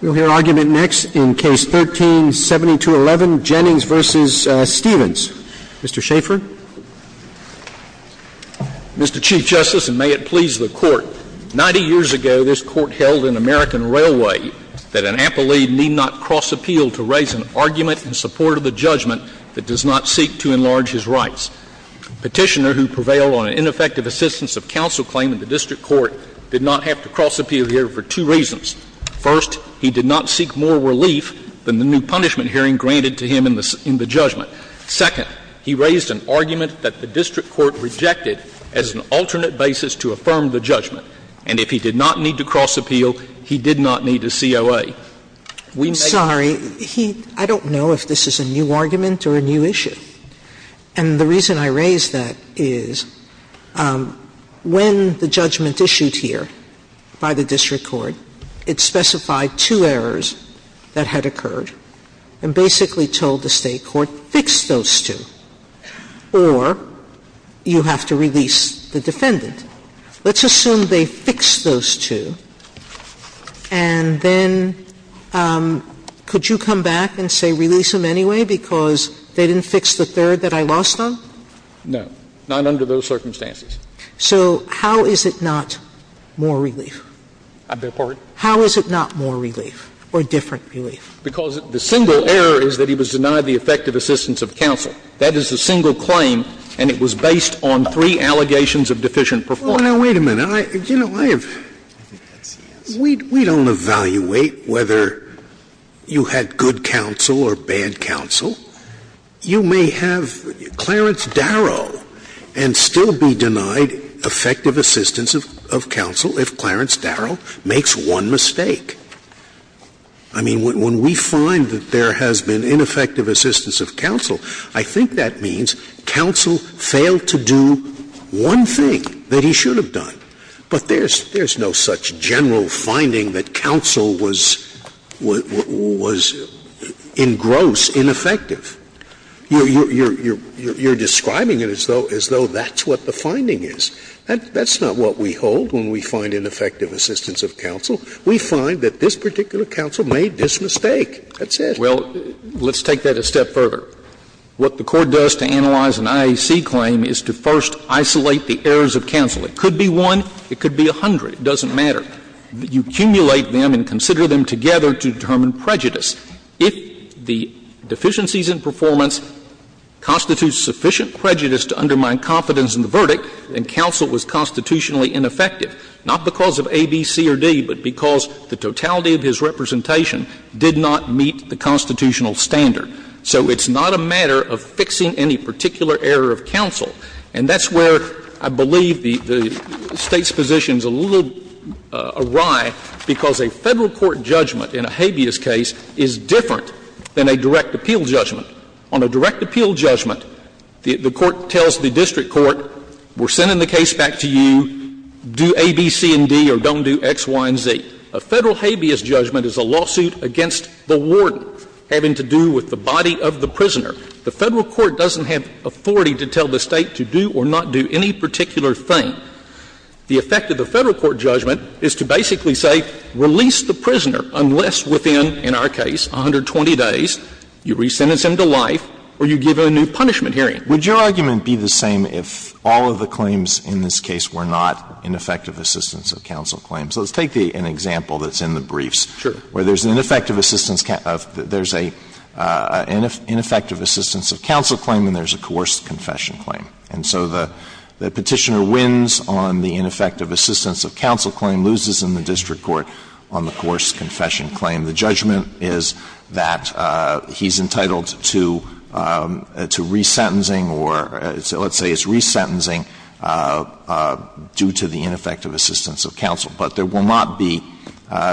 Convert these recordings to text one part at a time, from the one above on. We'll hear argument next in Case 13-7211, Jennings v. Stevens. Mr. Schaffer. Mr. Chief Justice, and may it please the Court, 90 years ago this Court held in American Railway that an appellee need not cross-appeal to raise an argument in support of a judgment that does not seek to enlarge his rights. A petitioner who prevailed on an ineffective assistance of counsel claim in the district court did not have to cross-appeal here for two reasons. First, he did not seek more relief than the new punishment hearing granted to him in the judgment. Second, he raised an argument that the district court rejected as an alternate basis to affirm the judgment. And if he did not need to cross-appeal, he did not need a COA. We may not need a COA. Sotomayor I'm sorry. I don't know if this is a new argument or a new issue. And the point is that when the judgment issued here by the district court, it specified two errors that had occurred and basically told the State court, fix those two, or you have to release the defendant. Let's assume they fixed those two, and then could you come back and say release them anyway because they didn't fix the third that I lost on? No. Not under those circumstances. So how is it not more relief? I beg your pardon? How is it not more relief or different relief? Because the single error is that he was denied the effective assistance of counsel. That is the single claim, and it was based on three allegations of deficient performance. Well, now, wait a minute. You know, I have we don't evaluate whether you had good counsel or bad counsel. You may have Clarence Darrow and still be denied effective assistance of counsel if Clarence Darrow makes one mistake. I mean, when we find that there has been ineffective assistance of counsel, I think that means counsel failed to do one thing that he should have done. But there's no such general finding that counsel was engrossed, ineffective. You're describing it as though that's what the finding is. That's not what we hold when we find ineffective assistance of counsel. We find that this particular counsel made this mistake. That's it. Well, let's take that a step further. What the court does to analyze an IAC claim is to first isolate the errors of counsel. It could be one. It could be a hundred. It doesn't matter. You accumulate them and consider them together to determine prejudice. If the deficiencies in performance constitute sufficient prejudice to undermine confidence in the verdict, then counsel was constitutionally ineffective, not because of A, B, C, or D, but because the totality of his representation did not meet the constitutional standard. So it's not a matter of fixing any particular error of counsel. And that's where I believe the State's position is a little awry, because a Federal court judgment in a habeas case is different than a direct appeal judgment. On a direct appeal judgment, the court tells the district court, we're sending the case back to you, do A, B, C, and D, or don't do X, Y, and Z. A Federal habeas judgment is a lawsuit against the warden having to do with the body of the prisoner. The Federal court doesn't have authority to tell the State to do or not do any particular thing. The effect of the Federal court judgment is to basically say, release the prisoner unless within, in our case, 120 days, you re-sentence him to life or you give him a new punishment hearing. Alitoson Would your argument be the same if all of the claims in this case were not ineffective assistance of counsel claims? Let's take an example that's in the briefs. Alitoson Sure. Alitoson Where there's an ineffective assistance of counsel claim and there's a coerced confession claim. And so the Petitioner wins on the ineffective assistance of counsel claim, loses in the district court on the coerced confession claim. The judgment is that he's entitled to re-sentencing or let's say it's re-sentencing due to the fact that the judgment is that he's entitled to the ineffective assistance of counsel, but there will not be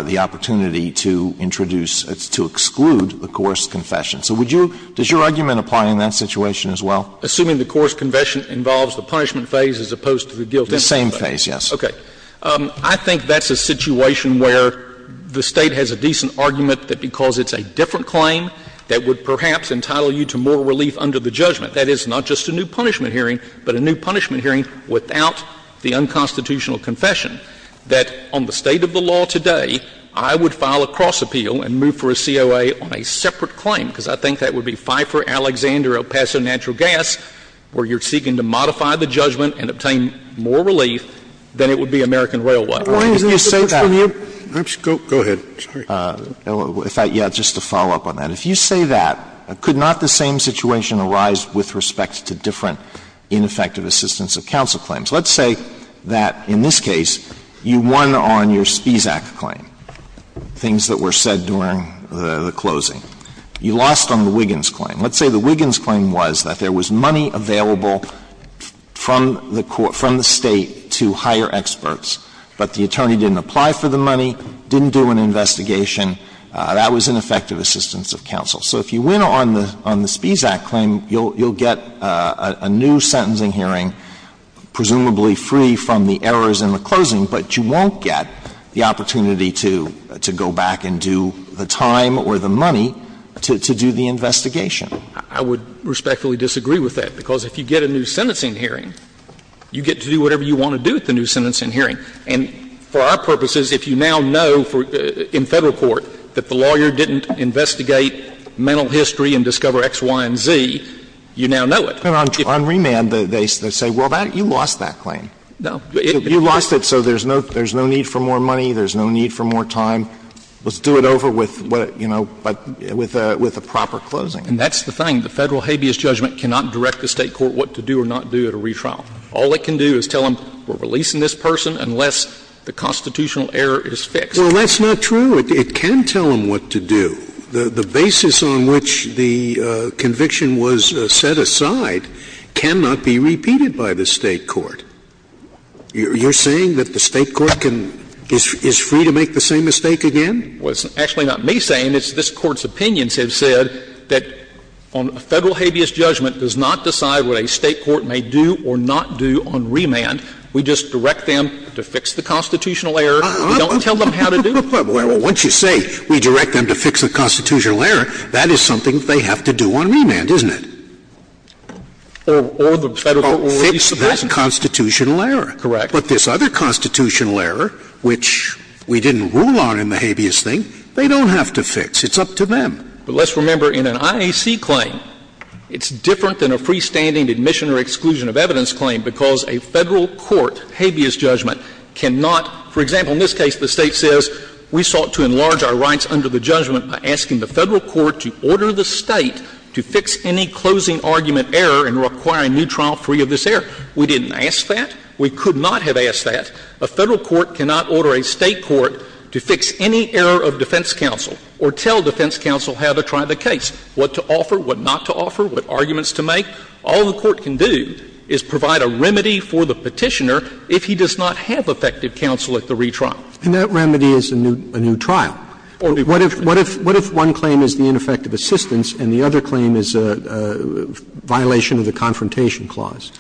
the opportunity to introduce, to exclude the coerced confession. So would you, does your argument apply in that situation as well? Alitoson Assuming the coerced confession involves the punishment phase as opposed to the guilt. Alitoson The same phase, yes. Alitoson Okay. I think that's a situation where the State has a decent argument that because it's a different claim that would perhaps entitle you to more relief under the judgment. That is not just a new punishment hearing, but a new punishment hearing without the unconstitutional confession, that on the State of the law today, I would file a cross-appeal and move for a COA on a separate claim, because I think that would be Pfeiffer, Alexander, El Paso, Natural Gas, where you're seeking to modify the judgment and obtain more relief than it would be American Railway. Scalia Why didn't you say that? Alitoson Go ahead. Alitoson Sorry. Alitoson Yeah, just to follow up on that. If you say that, could not the same situation arise with respect to different ineffective assistance of counsel claims? Let's say that in this case, you won on your Spisak claim, things that were said during the closing. You lost on the Wiggins claim. Let's say the Wiggins claim was that there was money available from the State to hire experts, but the attorney didn't apply for the money, didn't do an investigation, that was ineffective assistance of counsel. So if you win on the Spisak claim, you'll get a new sentencing hearing, presumably free from the errors in the closing, but you won't get the opportunity to go back and do the time or the money to do the investigation. Alitoson I would respectfully disagree with that, because if you get a new sentencing hearing, you get to do whatever you want to do with the new sentencing hearing. And for our purposes, if you now know in Federal court that the lawyer didn't investigate mental history and discover X, Y, and Z, you now know it. Alitoson On remand, they say, well, you lost that claim. You lost it, so there's no need for more money, there's no need for more time. Let's do it over with, you know, with a proper closing. Alitoson And that's the thing. The Federal habeas judgment cannot direct the State court what to do or not do at a time unless the constitutional error is fixed. Scalia Well, that's not true. It can tell them what to do. The basis on which the conviction was set aside cannot be repeated by the State court. You're saying that the State court is free to make the same mistake again? Alitoson Well, it's actually not me saying it. It's this Court's opinions have said that a Federal habeas judgment does not decide what a State court may do or not do on remand. We just direct them to fix the constitutional error. We don't tell them how to do it. Scalia Well, once you say we direct them to fix the constitutional error, that is something they have to do on remand, isn't it? Alitoson Or the Federal court will release the present. Scalia Oh, fix that constitutional error. Alitoson Correct. Scalia But this other constitutional error, which we didn't rule on in the habeas thing, they don't have to fix. It's up to them. Alitoson But let's remember, in an IAC claim, it's different than a freestanding admission or exclusion of evidence claim, because a Federal court habeas judgment cannot, for example, in this case the State says we sought to enlarge our rights under the judgment by asking the Federal court to order the State to fix any closing argument error and require a new trial free of this error. We didn't ask that. We could not have asked that. A Federal court cannot order a State court to fix any error of defense counsel or tell defense counsel how to try the case, what to offer, what not to offer, what So what a Federal court can do is provide a remedy for the Petitioner if he does not have effective counsel at the retrial. Roberts And that remedy is a new trial. What if one claim is the ineffective assistance and the other claim is a violation of the Confrontation Clause?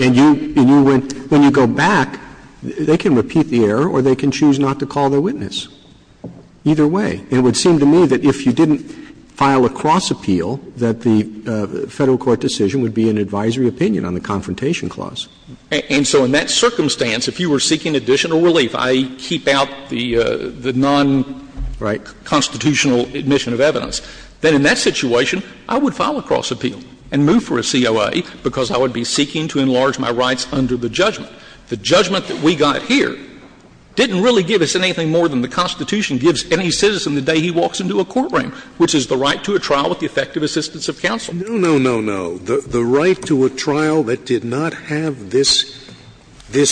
And when you go back, they can repeat the error or they can choose not to call their witness, either way. And it would seem to me that if you didn't file a cross-appeal, that the Federal court decision would be an advisory opinion on the Confrontation Clause. And so in that circumstance, if you were seeking additional relief, i.e., keep out the non-constitutional admission of evidence, then in that situation I would file a cross-appeal and move for a COA because I would be seeking to enlarge my rights under the judgment. The judgment that we got here didn't really give us anything more than the Constitution gives any citizen the day he walks into a courtroom, which is the right to a trial with the effective assistance of counsel. Scalia No, no, no, no. The right to a trial that did not have this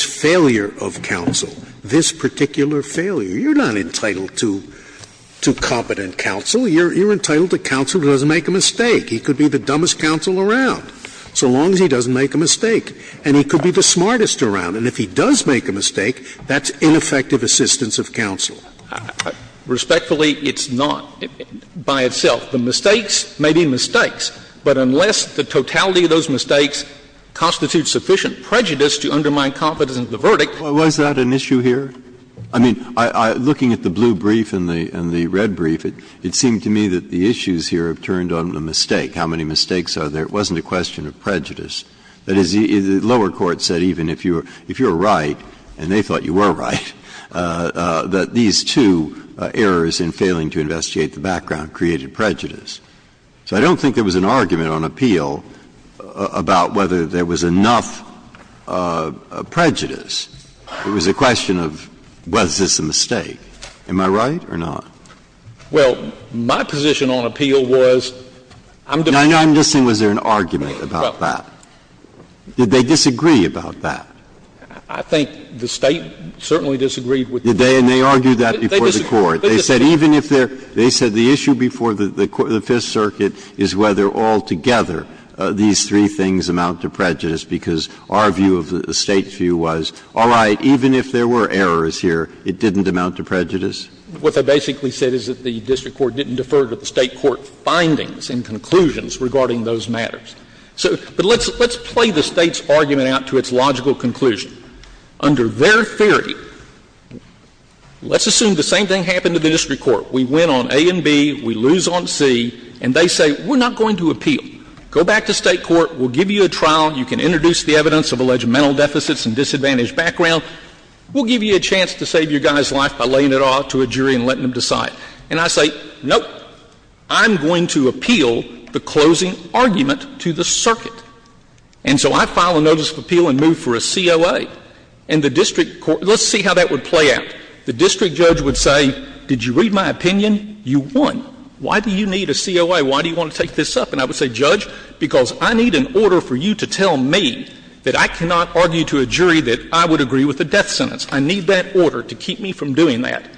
failure of counsel, this particular failure. You're not entitled to competent counsel. You're entitled to counsel who doesn't make a mistake. He could be the dumbest counsel around, so long as he doesn't make a mistake. And he could be the smartest around. And if he does make a mistake, that's ineffective assistance of counsel. Respectfully, it's not, by itself. The mistakes may be mistakes, but unless the totality of those mistakes constitutes sufficient prejudice to undermine confidence in the verdict. Breyer. Was that an issue here? I mean, looking at the blue brief and the red brief, it seemed to me that the issues here have turned on the mistake. How many mistakes are there? It wasn't a question of prejudice. That is, the lower court said even if you were right, and they thought you were right, that these two errors in failing to investigate the background created prejudice. So I don't think there was an argument on appeal about whether there was enough prejudice. It was a question of was this a mistake. Am I right or not? Well, my position on appeal was, I'm just saying was there an argument about that? Did they disagree about that? I think the State certainly disagreed with the court. And they argued that before the court. They said even if there – they said the issue before the Fifth Circuit is whether altogether these three things amount to prejudice, because our view of the State's view was, all right, even if there were errors here, it didn't amount to prejudice. What they basically said is that the district court didn't defer to the State court findings and conclusions regarding those matters. So – but let's play the State's argument out to its logical conclusion. Under their theory, let's assume the same thing happened to the district court. We win on A and B, we lose on C, and they say, we're not going to appeal. Go back to State court. We'll give you a trial. You can introduce the evidence of alleged mental deficits and disadvantaged background. We'll give you a chance to save your guy's life by laying it off to a jury and letting them decide. And I say, nope, I'm going to appeal the closing argument to the circuit. And so I file a notice of appeal and move for a COA. And the district court – let's see how that would play out. The district judge would say, did you read my opinion? You won. Why do you need a COA? Why do you want to take this up? And I would say, Judge, because I need an order for you to tell me that I cannot argue to a jury that I would agree with the death sentence. I need that order to keep me from doing that.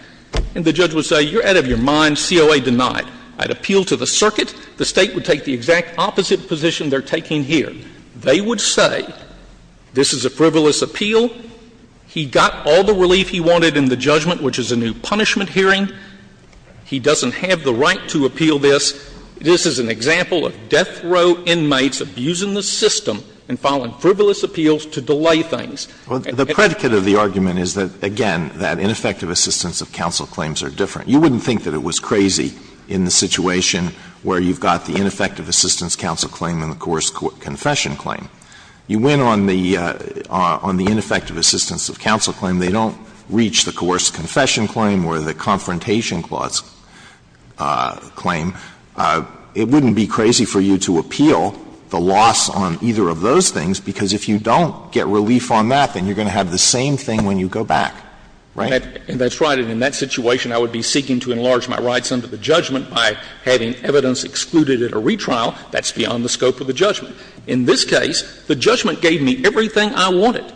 And the judge would say, you're out of your mind. COA denied. I'd appeal to the circuit. The State would take the exact opposite position they're taking here. They would say, this is a frivolous appeal. He got all the relief he wanted in the judgment, which is a new punishment hearing. He doesn't have the right to appeal this. This is an example of death row inmates abusing the system and filing frivolous appeals to delay things. Well, the predicate of the argument is that, again, that ineffective assistance of counsel claims are different. You wouldn't think that it was crazy in the situation where you've got the ineffective assistance counsel claim and the coerced confession claim. You went on the ineffective assistance of counsel claim. They don't reach the coerced confession claim or the confrontation clause claim. It wouldn't be crazy for you to appeal the loss on either of those things, because if you don't get relief on that, then you're going to have the same thing when you go back, right? And that's right. And in that situation, I would be seeking to enlarge my rights under the judgment by having evidence excluded at a retrial. That's beyond the scope of the judgment. In this case, the judgment gave me everything I wanted.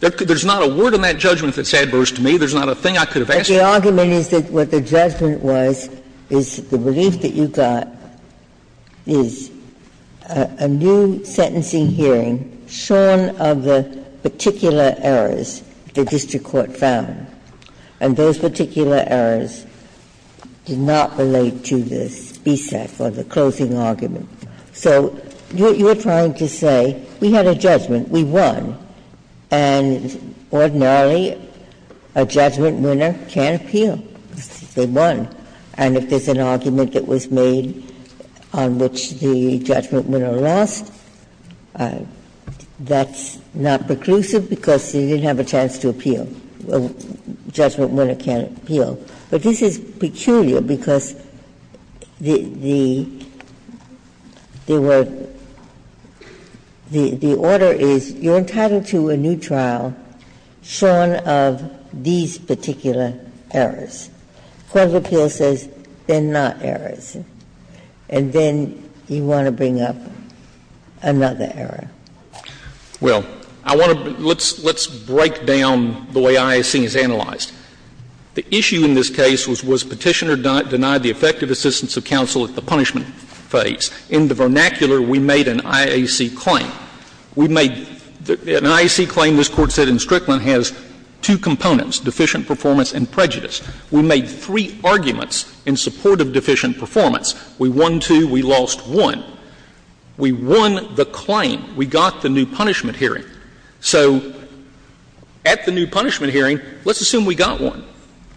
There's not a word in that judgment that's adverse to me. There's not a thing I could have asked for. But the argument is that what the judgment was is the relief that you got is a new sentencing hearing shorn of the particular errors the district court found. And those particular errors did not relate to this BSEC or the closing argument. So you're trying to say, we had a judgment, we won, and ordinarily, a judgment winner can't appeal because they won. And if there's an argument that was made on which the judgment winner lost, that's not preclusive because they didn't have a chance to appeal. A judgment winner can't appeal. But this is peculiar because the order is you're entitled to a new trial shorn of these particular errors. Court of Appeals says they're not errors. And then you want to bring up another error. Well, I want to be – let's break down the way IAC is analyzed. The issue in this case was, was Petitioner denied the effective assistance of counsel at the punishment phase? In the vernacular, we made an IAC claim. We made – an IAC claim, this Court said in Strickland, has two components, deficient performance and prejudice. We made three arguments in support of deficient performance. We won two, we lost one. We won the claim. We got the new punishment hearing. So at the new punishment hearing, let's assume we got one.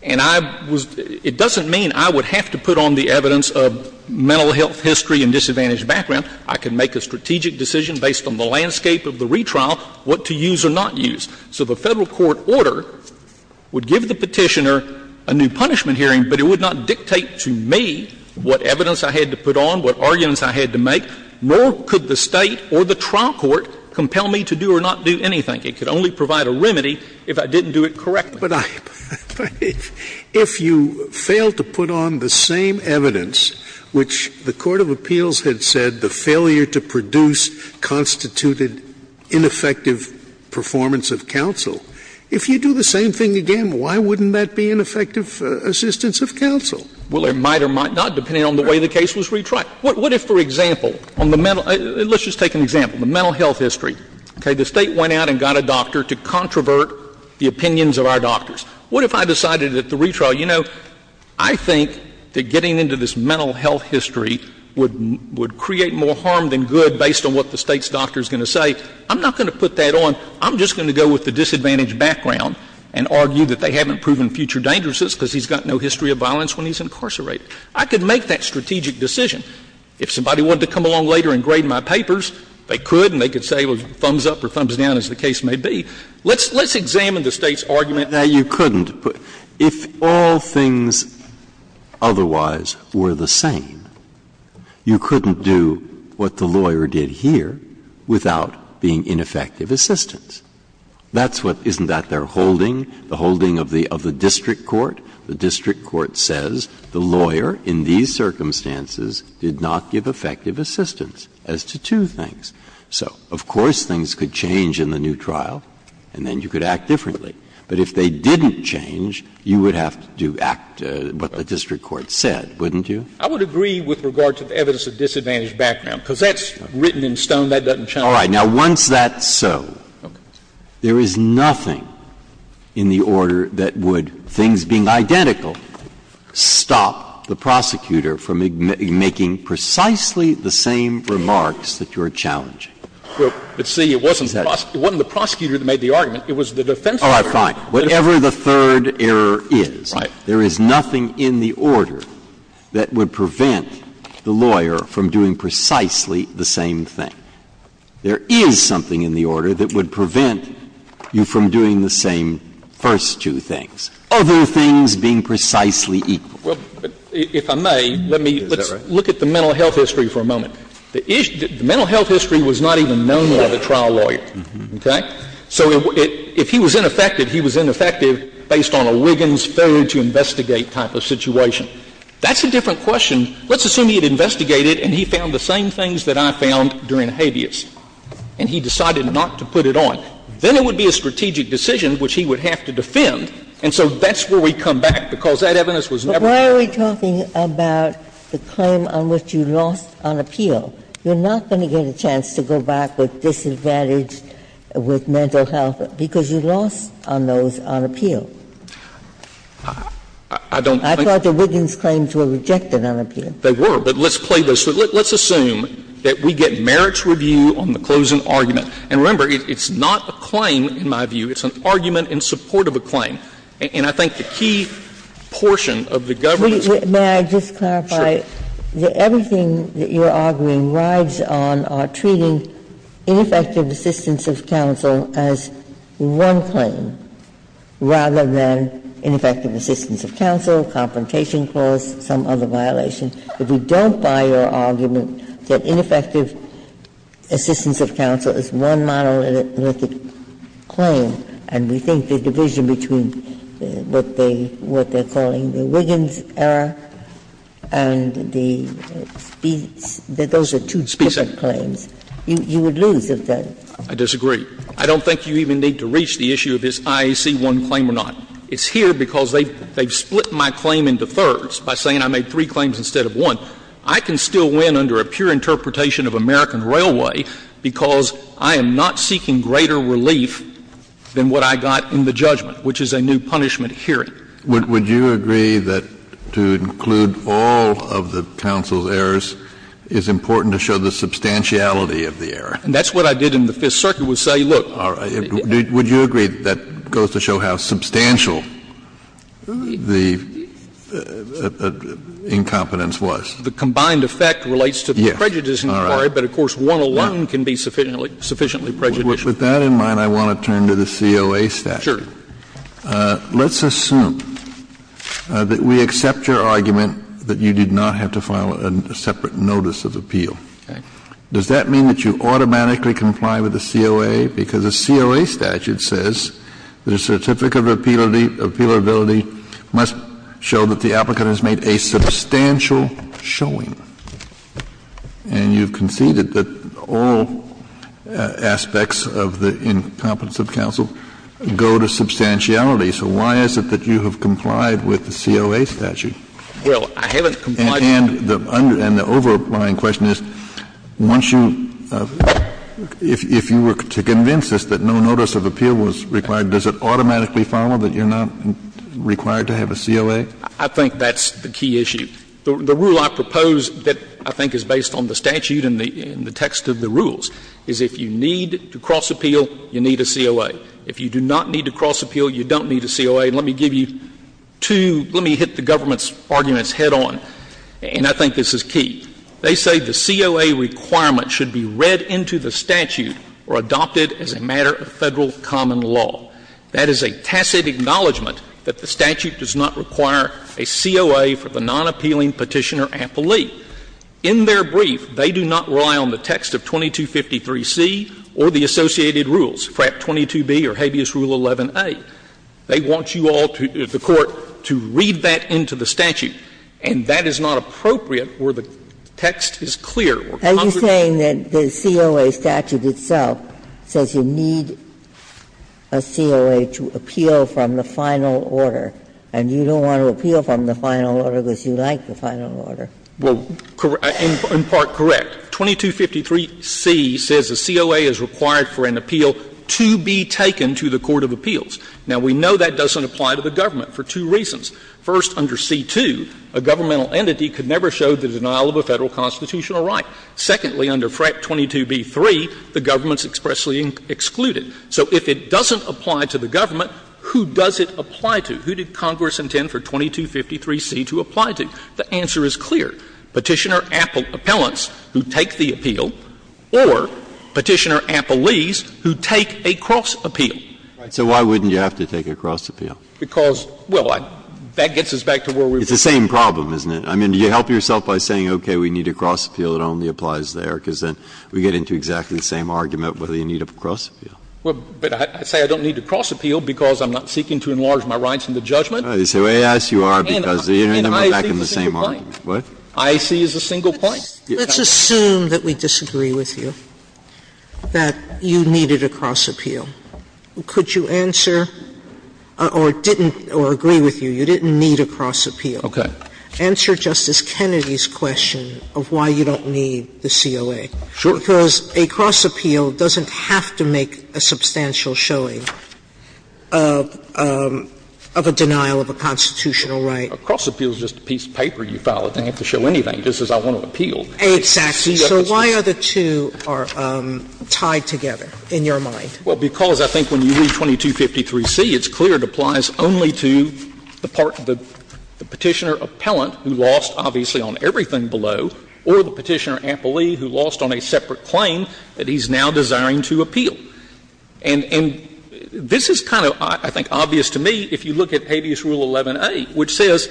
And I was – it doesn't mean I would have to put on the evidence of mental health history and disadvantaged background. I can make a strategic decision based on the landscape of the retrial, what to use or not use. So the Federal court order would give the Petitioner a new punishment hearing, but it would not dictate to me what evidence I had to put on, what arguments I had to make, nor could the State or the trial court compel me to do or not do anything. It could only provide a remedy if I didn't do it correctly. Scalia, if you fail to put on the same evidence which the Court of Appeals had said the failure to produce constituted ineffective performance of counsel, if you do the same thing again, why wouldn't that be ineffective assistance of counsel? Well, it might or might not, depending on the way the case was retried. What if, for example, on the mental – let's just take an example. The mental health history. Okay? The State went out and got a doctor to controvert the opinions of our doctors. What if I decided at the retrial, you know, I think that getting into this mental health history would create more harm than good based on what the State's doctor is going to say? I'm not going to put that on. I'm just going to go with the disadvantaged background and argue that they haven't proven future dangerousness because he's got no history of violence when he's incarcerated. I could make that strategic decision. If somebody wanted to come along later and grade my papers, they could and they could say thumbs up or thumbs down, as the case may be. Let's examine the State's argument. Breyer, you couldn't put – if all things otherwise were the same, you couldn't do what the lawyer did here without being ineffective assistance. That's what – isn't that their holding, the holding of the district court? The district court says the lawyer in these circumstances did not give effective assistance as to two things. So, of course, things could change in the new trial and then you could act differently. But if they didn't change, you would have to act what the district court said, wouldn't you? I would agree with regard to the evidence of disadvantaged background, because that's written in stone. That doesn't change. All right. Now, once that's so, there is nothing in the order that would, things being identical, stop the prosecutor from making precisely the same remarks that you're challenging. But, see, it wasn't the prosecutor that made the argument. It was the defense lawyer. All right, fine. Whatever the third error is, there is nothing in the order that would prevent the lawyer from doing precisely the same thing. There is something in the order that would prevent you from doing the same first two things, other things being precisely equal. Well, if I may, let me – let's look at the mental health history for a moment. The mental health history was not even known by the trial lawyer, okay? So if he was ineffective, he was ineffective based on a Wiggins failure to investigate type of situation. That's a different question. Let's assume he had investigated and he found the same things that I found during habeas, and he decided not to put it on. Then it would be a strategic decision which he would have to defend, and so that's where we come back, because that evidence was never used. But why are we talking about the claim on which you lost on appeal? You're not going to get a chance to go back with disadvantaged, with mental health, because you lost on those on appeal. I thought the Wiggins claims were rejected on appeal. They were, but let's play this. Let's assume that we get merits review on the closing argument. And remember, it's not a claim in my view. It's an argument in support of a claim. And I think the key portion of the government's claim is that it's not a claim. Ginsburg's argument is that the Wiggins claim rides on our treating ineffective assistance of counsel as one claim rather than ineffective assistance of counsel, confrontation clause, some other violation. If we don't buy your argument that ineffective assistance of counsel is one monolithic claim, and we think the division between what they're calling the Wiggins error and the Spies, that those are two different claims, you would lose if there's a difference. I disagree. I don't think you even need to reach the issue of is IAC one claim or not. It's here because they've split my claim into thirds by saying I made three claims instead of one. I can still win under a pure interpretation of American Railway because I am not seeking greater relief than what I got in the judgment, which is a new punishment hearing. Kennedy, would you agree that to include all of the counsel's errors is important to show the substantiality of the error? And that's what I did in the Fifth Circuit, was say, look. Would you agree that goes to show how substantial the incompetence was? The combined effect relates to the prejudice inquiry, but, of course, one alone can be sufficiently prejudicial. With that in mind, I want to turn to the COA statute. Sure. Let's assume that we accept your argument that you did not have to file a separate notice of appeal. Okay. Does that mean that you automatically comply with the COA? Because the COA statute says that a certificate of appealability must show that the applicant has made a substantial showing. And you've conceded that all aspects of the incompetence of counsel go to substantiality. So why is it that you have complied with the COA statute? Well, I haven't complied with it. And the underlying question is, once you — if you were to convince us that no notice of appeal was required, does it automatically follow that you're not required to have a COA? I think that's the key issue. The rule I propose that I think is based on the statute and the text of the rules is if you need to cross-appeal, you need a COA. If you do not need to cross-appeal, you don't need a COA. And let me give you two — let me hit the government's arguments head on, and I think this is key. They say the COA requirement should be read into the statute or adopted as a matter of Federal common law. That is a tacit acknowledgment that the statute does not require a COA for the nonappealing Petitioner-Appellee. In their brief, they do not rely on the text of 2253C or the associated rules, FRAP 22B or Habeas Rule 11a. They want you all to — the Court to read that into the statute, and that is not appropriate where the text is clear or comprehensive. Ginsburg, you are saying that the COA statute itself says you need a COA to appeal from the final order, and you don't want to appeal from the final order because you like the final order. Well, in part, correct. 2253C says a COA is required for an appeal to be taken to the court of appeals. Now, we know that doesn't apply to the government for two reasons. First, under C-2, a governmental entity could never show the denial of a Federal constitutional right. Secondly, under FRAP 22B-3, the government is expressly excluded. So if it doesn't apply to the government, who does it apply to? Who did Congress intend for 2253C to apply to? The answer is clear. Petitioner-Appellants who take the appeal or Petitioner-Appellees who take a cross-appeal. So why wouldn't you have to take a cross-appeal? Because, well, that gets us back to where we were. It's the same problem, isn't it? I mean, do you help yourself by saying, okay, we need a cross-appeal that only applies there? Because then we get into exactly the same argument whether you need a cross-appeal. Well, but I say I don't need a cross-appeal because I'm not seeking to enlarge my rights in the judgment. They say, well, yes, you are, because you're back in the same argument. What? IAC is a single point? Let's assume that we disagree with you, that you needed a cross-appeal. Could you answer or didn't or agree with you, you didn't need a cross-appeal? Okay. Answer Justice Kennedy's question of why you don't need the COA. Sure. Because a cross-appeal doesn't have to make a substantial showing of a denial of a constitutional right. A cross-appeal is just a piece of paper you file. It doesn't have to show anything. It just says I want to appeal. Exactly. So why are the two tied together in your mind? Well, because I think when you read 2253C, it's clear it applies only to the part of the Petitioner-Appellant who lost, obviously, on everything below, or the Petitioner-Appelee who lost on a separate claim that he's now desiring to appeal. And this is kind of, I think, obvious to me if you look at Habeas Rule 11a, which says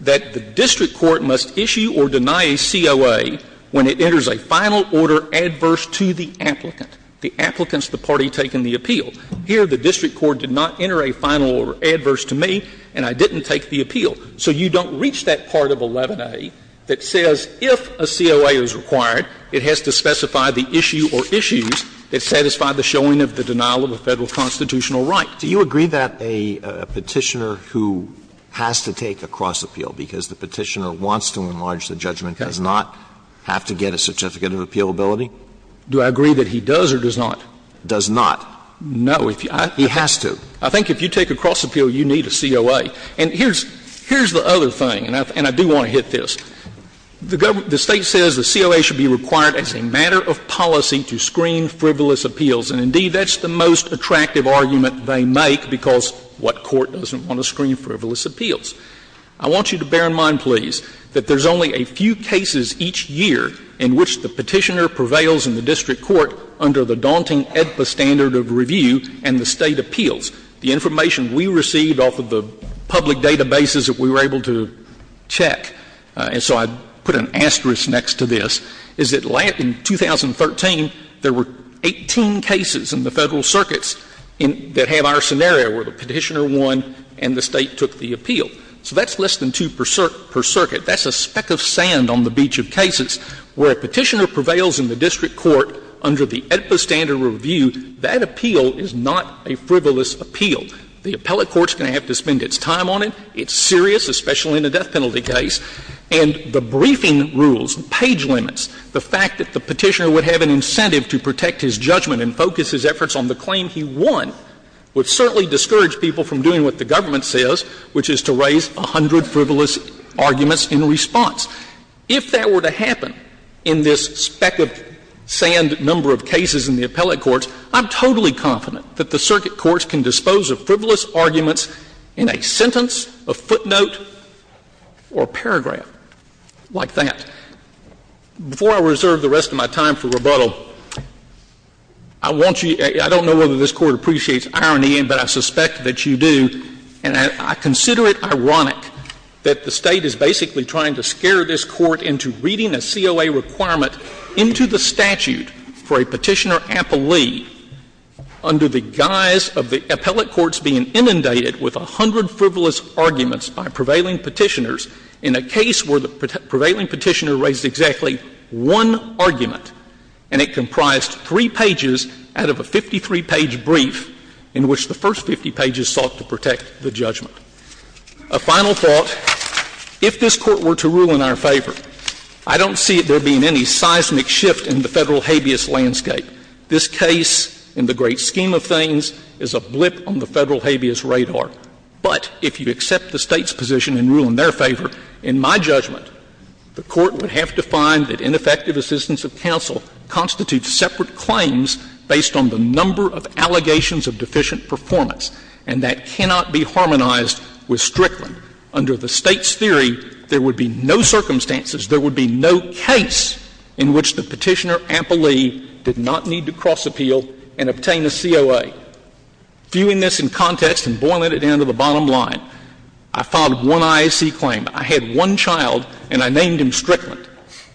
that the district court must issue or deny a COA when it enters a final order adverse to the applicant, the applicants the party taking the appeal. Here, the district court did not enter a final order adverse to me, and I didn't take the appeal. So you don't reach that part of 11a that says if a COA is required, it has to specify the issue or issues that satisfy the showing of the denial of a Federal constitutional right. Do you agree that a Petitioner who has to take a cross-appeal, because the Petitioner wants to enlarge the judgment, does not have to get a certificate of appealability? Do I agree that he does or does not? Does not. No. He has to. I think if you take a cross-appeal, you need a COA. And here's the other thing, and I do want to hit this. The State says the COA should be required as a matter of policy to screen frivolous appeals, and indeed, that's the most attractive argument they make, because what court doesn't want to screen frivolous appeals? I want you to bear in mind, please, that there's only a few cases each year in which the Petitioner prevails in the district court under the daunting AEDPA standard of review and the State appeals. The information we received off of the public databases that we were able to check and so I put an asterisk next to this, is that in 2013, there were 18 cases in the Federal circuits that have our scenario where the Petitioner won and the State took the appeal. So that's less than two per circuit. That's a speck of sand on the beach of cases. Where a Petitioner prevails in the district court under the AEDPA standard of review, that appeal is not a frivolous appeal. The appellate court's going to have to spend its time on it. It's serious, especially in a death penalty case. And the briefing rules, page limits, the fact that the Petitioner would have an incentive to protect his judgment and focus his efforts on the claim he won would certainly discourage people from doing what the government says, which is to raise a hundred frivolous arguments in response. If that were to happen in this speck of sand number of cases in the appellate courts, I'm totally confident that the circuit courts can dispose of frivolous arguments in a sentence, a footnote, or a paragraph like that. Before I reserve the rest of my time for rebuttal, I want you to — I don't know whether this Court appreciates irony, but I suspect that you do, and I consider it ironic that the State is basically trying to scare this Court into reading a COA requirement into the statute for a Petitioner appellee under the guise of the appellate courts being inundated with a hundred frivolous arguments by prevailing Petitioners in a case where the prevailing Petitioner raised exactly one argument, and it comprised three pages out of a 53-page brief in which the first 50 pages sought to protect the judgment. A final thought. If this Court were to rule in our favor, I don't see there being any seismic shift in the Federal habeas landscape. This case, in the great scheme of things, is a blip on the Federal habeas radar. But if you accept the State's position and rule in their favor, in my judgment, the Court would have to find that ineffective assistance of counsel constitutes separate claims based on the number of allegations of deficient performance, and that cannot be harmonized with Strickland. Under the State's theory, there would be no circumstances, there would be no case in which the Petitioner appellee did not need to cross-appeal and obtain a COA. Viewing this in context and boiling it down to the bottom line, I filed one IAC claim. I had one child, and I named him Strickland.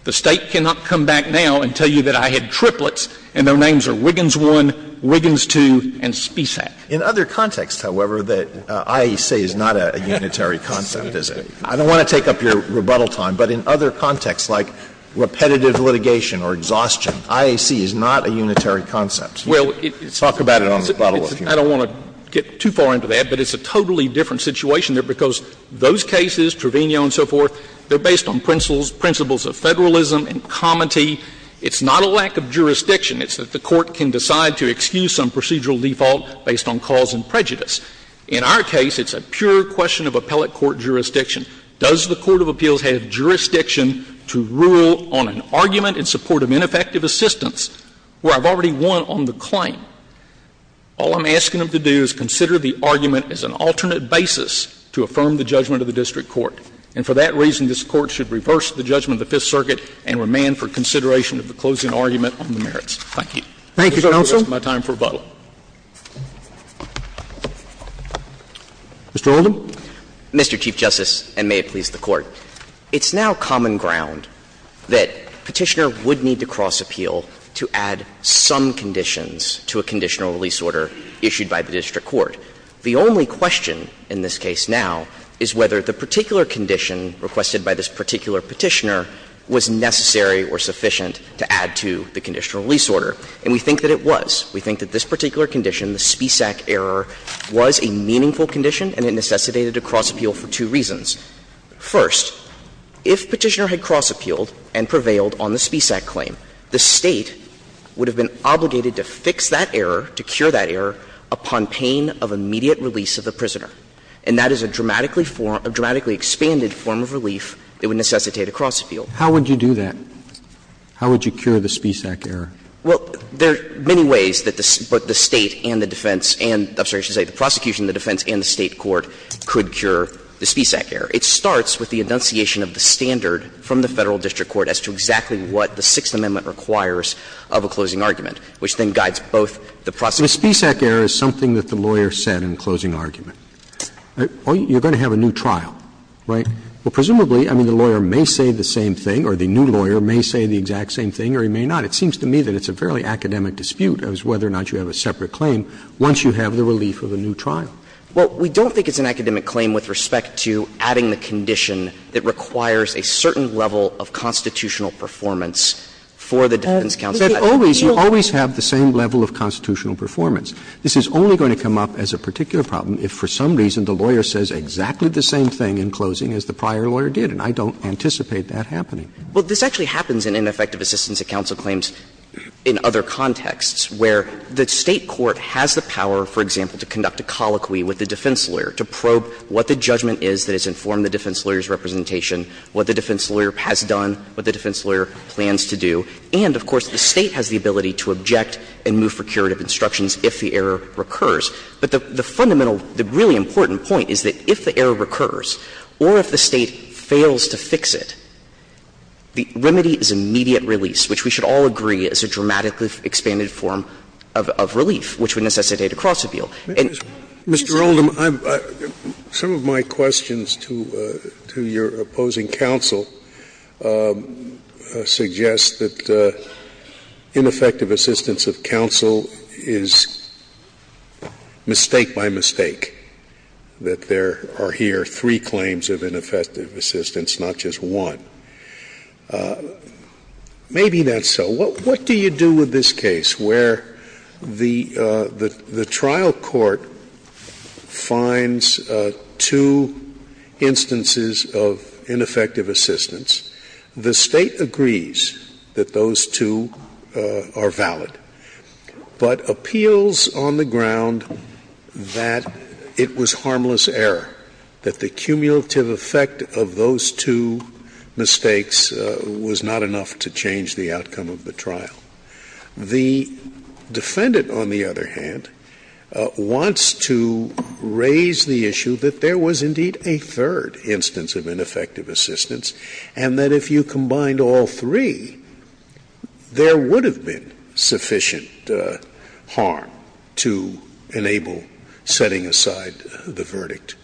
The State cannot come back now and tell you that I had triplets, and their names are Wiggins I, Wiggins II, and Spisak. In other contexts, however, that IAC is not a unitary concept, is it? I don't want to take up your rebuttal time, but in other contexts, like repetitive litigation or exhaustion, IAC is not a unitary concept. Talk about it on the rebuttal if you want. Well, I don't want to get too far into that, but it's a totally different situation there, because those cases, Trevino and so forth, they're based on principles of Federalism and comity. It's not a lack of jurisdiction. It's that the Court can decide to excuse some procedural default based on cause and prejudice. In our case, it's a pure question of appellate court jurisdiction. Does the court of appeals have jurisdiction to rule on an argument in support of ineffective assistance, where I've already won on the claim? All I'm asking them to do is consider the argument as an alternate basis to affirm the judgment of the district court. And for that reason, this Court should reverse the judgment of the Fifth Circuit and remand for consideration of the closing argument on the merits. Thank you. Thank you, Counsel. I'll reserve the rest of my time for rebuttal. Mr. Oldham. Mr. Chief Justice, and may it please the Court. It's now common ground that Petitioner would need to cross-appeal to add some conditions to a conditional release order issued by the district court. The only question in this case now is whether the particular condition requested by this particular Petitioner was necessary or sufficient to add to the conditional release order. And we think that it was. We think that this particular condition, the Spisak error, was a meaningful condition and it necessitated a cross-appeal for two reasons. First, if Petitioner had cross-appealed and prevailed on the Spisak claim, the State would have been obligated to fix that error, to cure that error, upon pain of immediate release of the prisoner. And that is a dramatically form of relief that would necessitate a cross-appeal. How would you do that? How would you cure the Spisak error? Well, there are many ways that the State and the defense and the prosecution and the defense and the State court could cure the Spisak error. It starts with the enunciation of the standard from the Federal district court as to exactly what the Sixth Amendment requires of a closing argument, which then guides both the prosecution and the defense. But the Spisak error is something that the lawyer said in closing argument. You're going to have a new trial, right? Well, presumably, I mean, the lawyer may say the same thing or the new lawyer may say the exact same thing or he may not. It seems to me that it's a fairly academic dispute as to whether or not you have a separate claim once you have the relief of a new trial. Well, we don't think it's an academic claim with respect to adding the condition that requires a certain level of constitutional performance for the defense counsel. You always have the same level of constitutional performance. This is only going to come up as a particular problem if for some reason the lawyer says exactly the same thing in closing as the prior lawyer did, and I don't anticipate that happening. Well, this actually happens in ineffective assistance at counsel claims in other contexts where the State court has the power, for example, to conduct a colloquy with the defense lawyer to probe what the judgment is that has informed the defense lawyer's representation, what the defense lawyer has done, what the defense lawyer plans to do, and, of course, the State has the ability to object and move for curative instructions if the error recurs. But the fundamental, the really important point is that if the error recurs or if the State fails to fix it, the remedy is immediate release, which we should all agree is a dramatically expanded form of relief, which would necessitate a cross-appeal. Scalia. Mr. Oldham, I'm — some of my questions to your opposing counsel suggest that ineffective assistance at counsel is mistake by mistake, that there are here three claims of ineffective assistance, not just one. Maybe that's so. What do you do with this case where the trial court finds two instances of ineffective assistance, the State agrees that those two are valid, but appeals on the ground that it was harmless error, that the cumulative effect of those two mistakes was not enough to change the outcome of the trial? The defendant, on the other hand, wants to raise the issue that there was indeed a third instance of ineffective assistance, and that if you combined all three, there would have been sufficient harm to enable setting aside the verdict.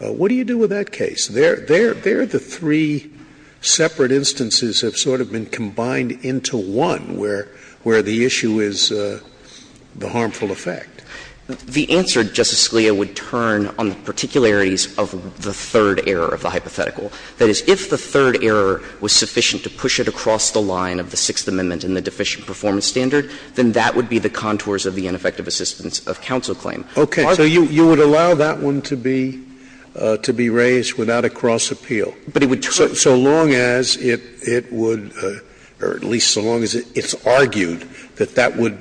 What do you do with that case? There are the three separate instances that have sort of been combined into one where the issue is the harmful effect. The answer, Justice Scalia, would turn on the particularities of the third error of the hypothetical. That is, if the third error was sufficient to push it across the line of the Sixth Amendment and the deficient performance standard, then that would be the contours of the ineffective assistance of counsel claim. Scalia, so you would allow that one to be raised without a cross-appeal? So long as it would, or at least so long as it's argued, that that would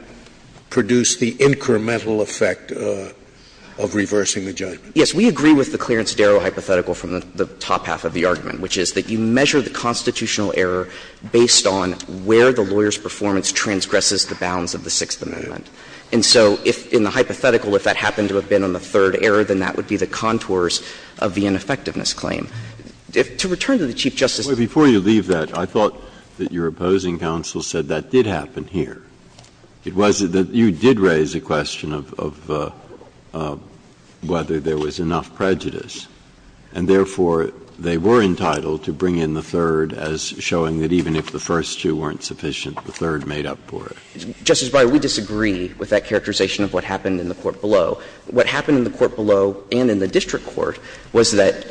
produce the incremental effect of reversing the judgment? Yes. We agree with the Clarence Darrow hypothetical from the top half of the argument, which is that you measure the constitutional error based on where the lawyer's performance transgresses the bounds of the Sixth Amendment. And so if in the hypothetical, if that happened to have been on the third error, then that would be the contours of the ineffectiveness claim. To return to the Chief Justice's point. Breyer, before you leave that, I thought that your opposing counsel said that did happen here. It was that you did raise the question of whether there was enough prejudice, and therefore, they were entitled to bring in the third as showing that even if the first two weren't sufficient, the third made up for it. Justice Breyer, we disagree with that characterization of what happened in the court below. What happened in the court below and in the district court was that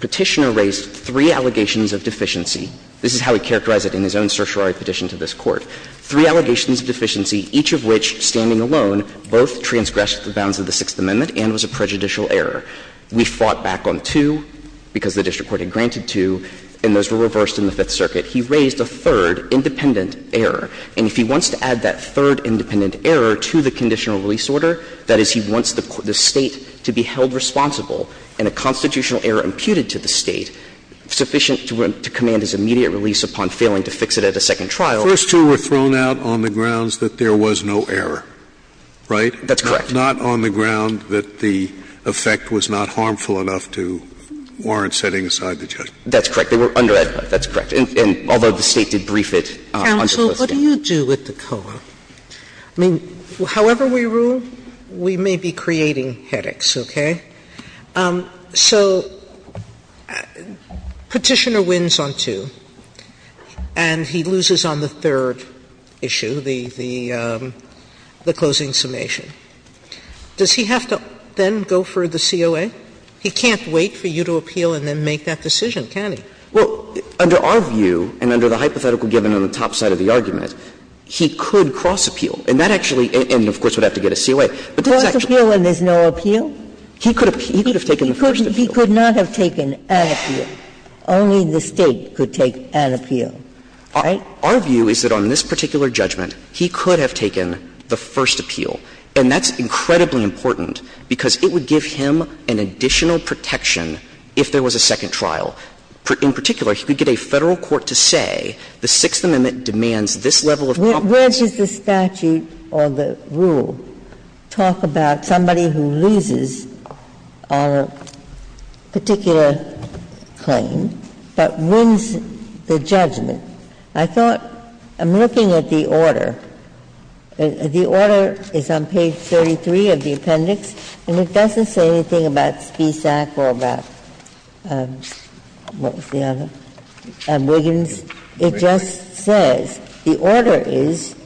Petitioner raised three allegations of deficiency. This is how he characterized it in his own certiorari petition to this Court. Three allegations of deficiency, each of which, standing alone, both transgressed the bounds of the Sixth Amendment and was a prejudicial error. We fought back on two because the district court had granted two, and those were reversed in the Fifth Circuit. He raised a third independent error. And if he wants to add that third independent error to the conditional release order, that is, he wants the State to be held responsible and a constitutional error imputed to the State sufficient to command his immediate release upon failing to fix it at a second trial. Scalia, first two were thrown out on the grounds that there was no error, right? That's correct. Not on the ground that the effect was not harmful enough to warrant setting aside the judgment. That's correct. They were under that. That's correct. And although the State did brief it on the close date. Sotomayor, what do you do with the COA? I mean, however we rule, we may be creating headaches, okay? So Petitioner wins on two, and he loses on the third issue, the closing summation. Does he have to then go for the COA? He can't wait for you to appeal and then make that decision, can he? Well, under our view and under the hypothetical given on the top side of the argument, he could cross-appeal. And that actually and, of course, would have to get a COA. Cross-appeal when there's no appeal? He could have taken the first appeal. He could not have taken an appeal. Only the State could take an appeal, right? Our view is that on this particular judgment, he could have taken the first appeal. And that's incredibly important, because it would give him an additional protection if there was a second trial. In particular, he could get a Federal court to say the Sixth Amendment demands this level of compensation. Where does the statute or the rule talk about somebody who loses on a particular claim, but wins the judgment? I thought, I'm looking at the order. The order is on page 33 of the appendix, and it doesn't say anything about Spiess or about Stack or about, what was the other, Wiggins. It just says the order is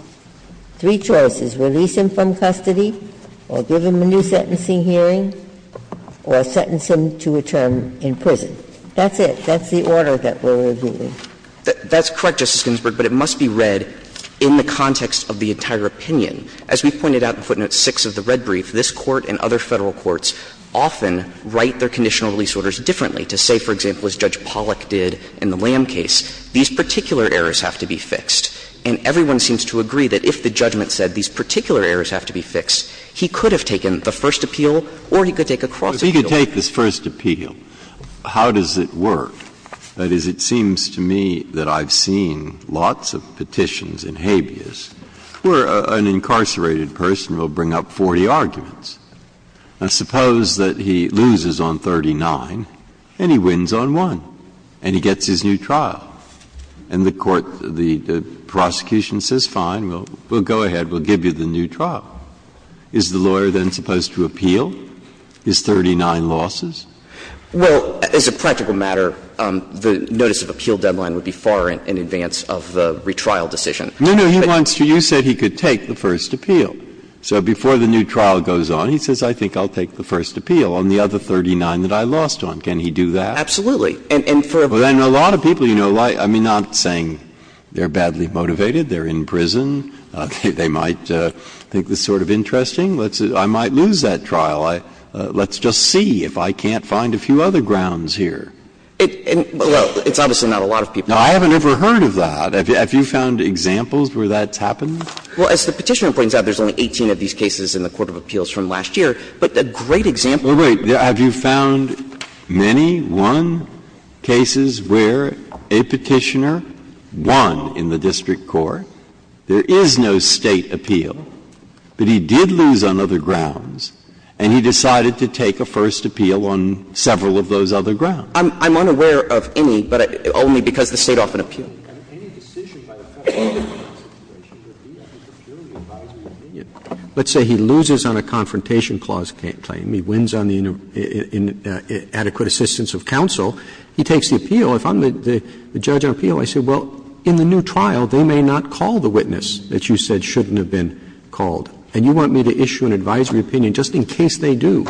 three choices, release him from custody, or give him a new sentencing hearing, or sentence him to a term in prison. That's it. That's the order that we're reviewing. That's correct, Justice Ginsburg, but it must be read in the context of the entire opinion. As we pointed out in footnote 6 of the red brief, this Court and other Federal courts often write their conditional release orders differently, to say, for example, as Judge Pollack did in the Lamb case, these particular errors have to be fixed. And everyone seems to agree that if the judgment said these particular errors have to be fixed, he could have taken the first appeal or he could take a cross appeal. Breyer. If he could take this first appeal, how does it work? That is, it seems to me that I've seen lots of petitions and habeas where an incarcerated person will bring up 40 arguments. Now, suppose that he loses on 39 and he wins on 1 and he gets his new trial. And the court, the prosecution says, fine, we'll go ahead, we'll give you the new trial. Is the lawyer then supposed to appeal his 39 losses? Well, as a practical matter, the notice of appeal deadline would be far in advance of the retrial decision. No, no. He wants to you said he could take the first appeal. So before the new trial goes on, he says, I think I'll take the first appeal on the other 39 that I lost on. Can he do that? And for a brief period of time, he can. Well, then a lot of people, you know, I'm not saying they're badly motivated, they're in prison, they might think this is sort of interesting, I might lose that trial, let's just see if I can't find a few other grounds here. Well, it's obviously not a lot of people. Now, I haven't ever heard of that. Have you found examples where that's happened? Well, as the Petitioner points out, there's only 18 of these cases in the court of appeals from last year. But a great example of that is in the District Court. Well, wait. Have you found many, one cases where a Petitioner won in the District Court, there is no State appeal, but he did lose on other grounds, and he decided to take a first appeal on several of those other grounds? I'm unaware of any, but only because the State often appeals. And any decision by the Federal law constitution would be a purely advisory opinion. Roberts, let's say he loses on a Confrontation Clause claim, he wins on the Adequate Assistance of Counsel, he takes the appeal. If I'm the judge on appeal, I say, well, in the new trial, they may not call the witness that you said shouldn't have been called, and you want me to issue an advisory opinion just in case they do.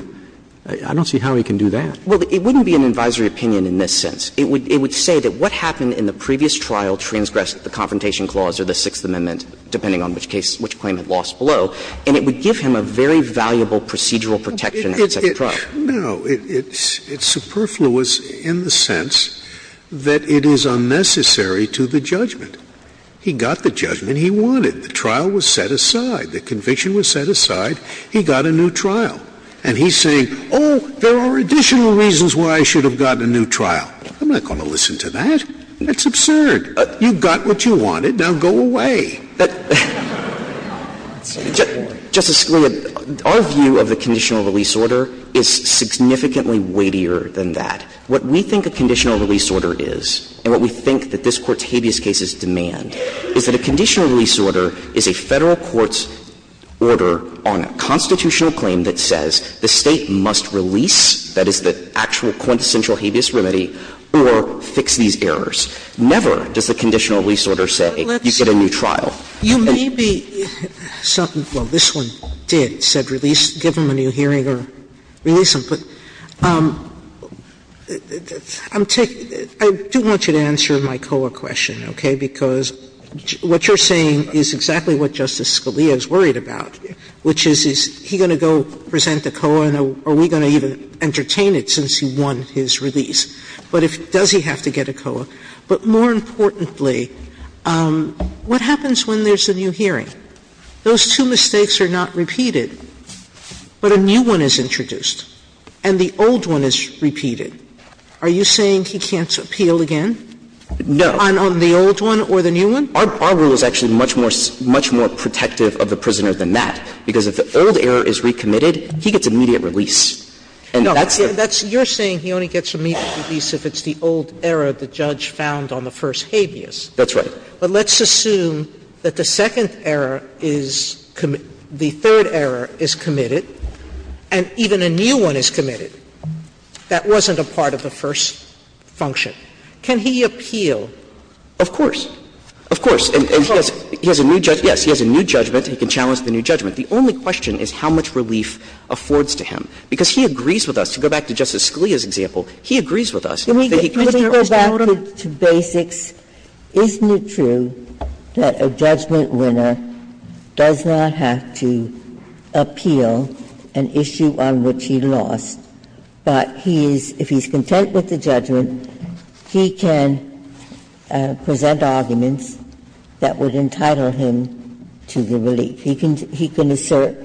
I don't see how he can do that. Well, it wouldn't be an advisory opinion in this sense. It would say that what happened in the previous trial transgressed the Confrontation Clause or the Sixth Amendment, depending on which case, which claim had lost below, and it would give him a very valuable procedural protection in the second trial. No. It's superfluous in the sense that it is unnecessary to the judgment. He got the judgment he wanted. The trial was set aside. The conviction was set aside. He got a new trial. And he's saying, oh, there are additional reasons why I should have gotten a new trial. I'm not going to listen to that. That's absurd. You got what you wanted. Now go away. Justice Scalia, our view of the conditional release order is significantly weightier than that. What we think a conditional release order is, and what we think that this Court's habeas case is demand, is that a conditional release order is a Federal court's order on a constitutional claim that says the State must release, that is, the actual quintessential habeas remedy, or fix these errors. Never does the conditional release order say you get a new trial. Sotomayor, you may be – well, this one did, said release, give him a new hearing or release him. But I'm taking – I do want you to answer my COA question, okay, because what you're saying is exactly what Justice Scalia is worried about, which is, is he going to go and present a COA, and are we going to even entertain it since he won his release? But if – does he have to get a COA? But more importantly, what happens when there's a new hearing? Those two mistakes are not repeated, but a new one is introduced, and the old one is repeated. Are you saying he can't appeal again? No. On the old one or the new one? Our rule is actually much more – much more protective of the prisoner than that, because if the old error is recommitted, he gets immediate release. And that's the – No. That's – you're saying he only gets immediate release if it's the old error the judge found on the first habeas. That's right. But let's assume that the second error is – the third error is committed, and even a new one is committed. That wasn't a part of the first function. Can he appeal? Of course. Of course. And he has a new – yes, he has a new judgment. He can challenge the new judgment. The only question is how much relief affords to him, because he agrees with us. To go back to Justice Scalia's example, he agrees with us that he can't err. Can we go back to basics? Isn't it true that a judgment winner does not have to appeal an issue on which he lost? But he is – if he's content with the judgment, he can present arguments that would entitle him to the relief. He can assert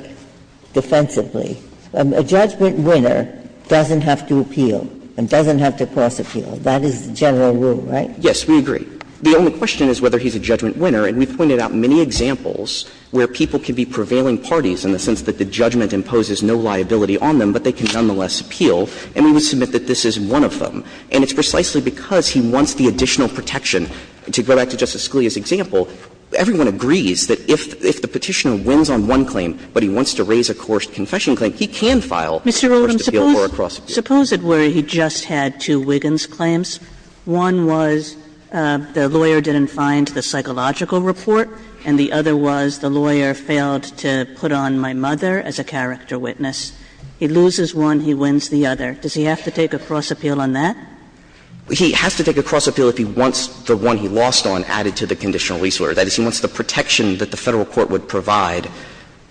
defensively. A judgment winner doesn't have to appeal and doesn't have to cause appeal. That is the general rule, right? Yes, we agree. The only question is whether he's a judgment winner, and we've pointed out many examples where people can be prevailing parties in the sense that the judgment imposes no liability on them, but they can nonetheless appeal. And we would submit that this is one of them. And it's precisely because he wants the additional protection. To go back to Justice Scalia's example, everyone agrees that if the Petitioner wins on one claim, but he wants to raise a coerced confession claim, he can file a coerced appeal or a cross-appeal. Sotomayor, suppose it were he just had two Wiggins claims. One was the lawyer didn't find the psychological report, and the other was the lawyer failed to put on my mother as a character witness. He loses one, he wins the other. Does he have to take a cross-appeal on that? He has to take a cross-appeal if he wants the one he lost on added to the conditional release order. That is, he wants the protection that the Federal court would provide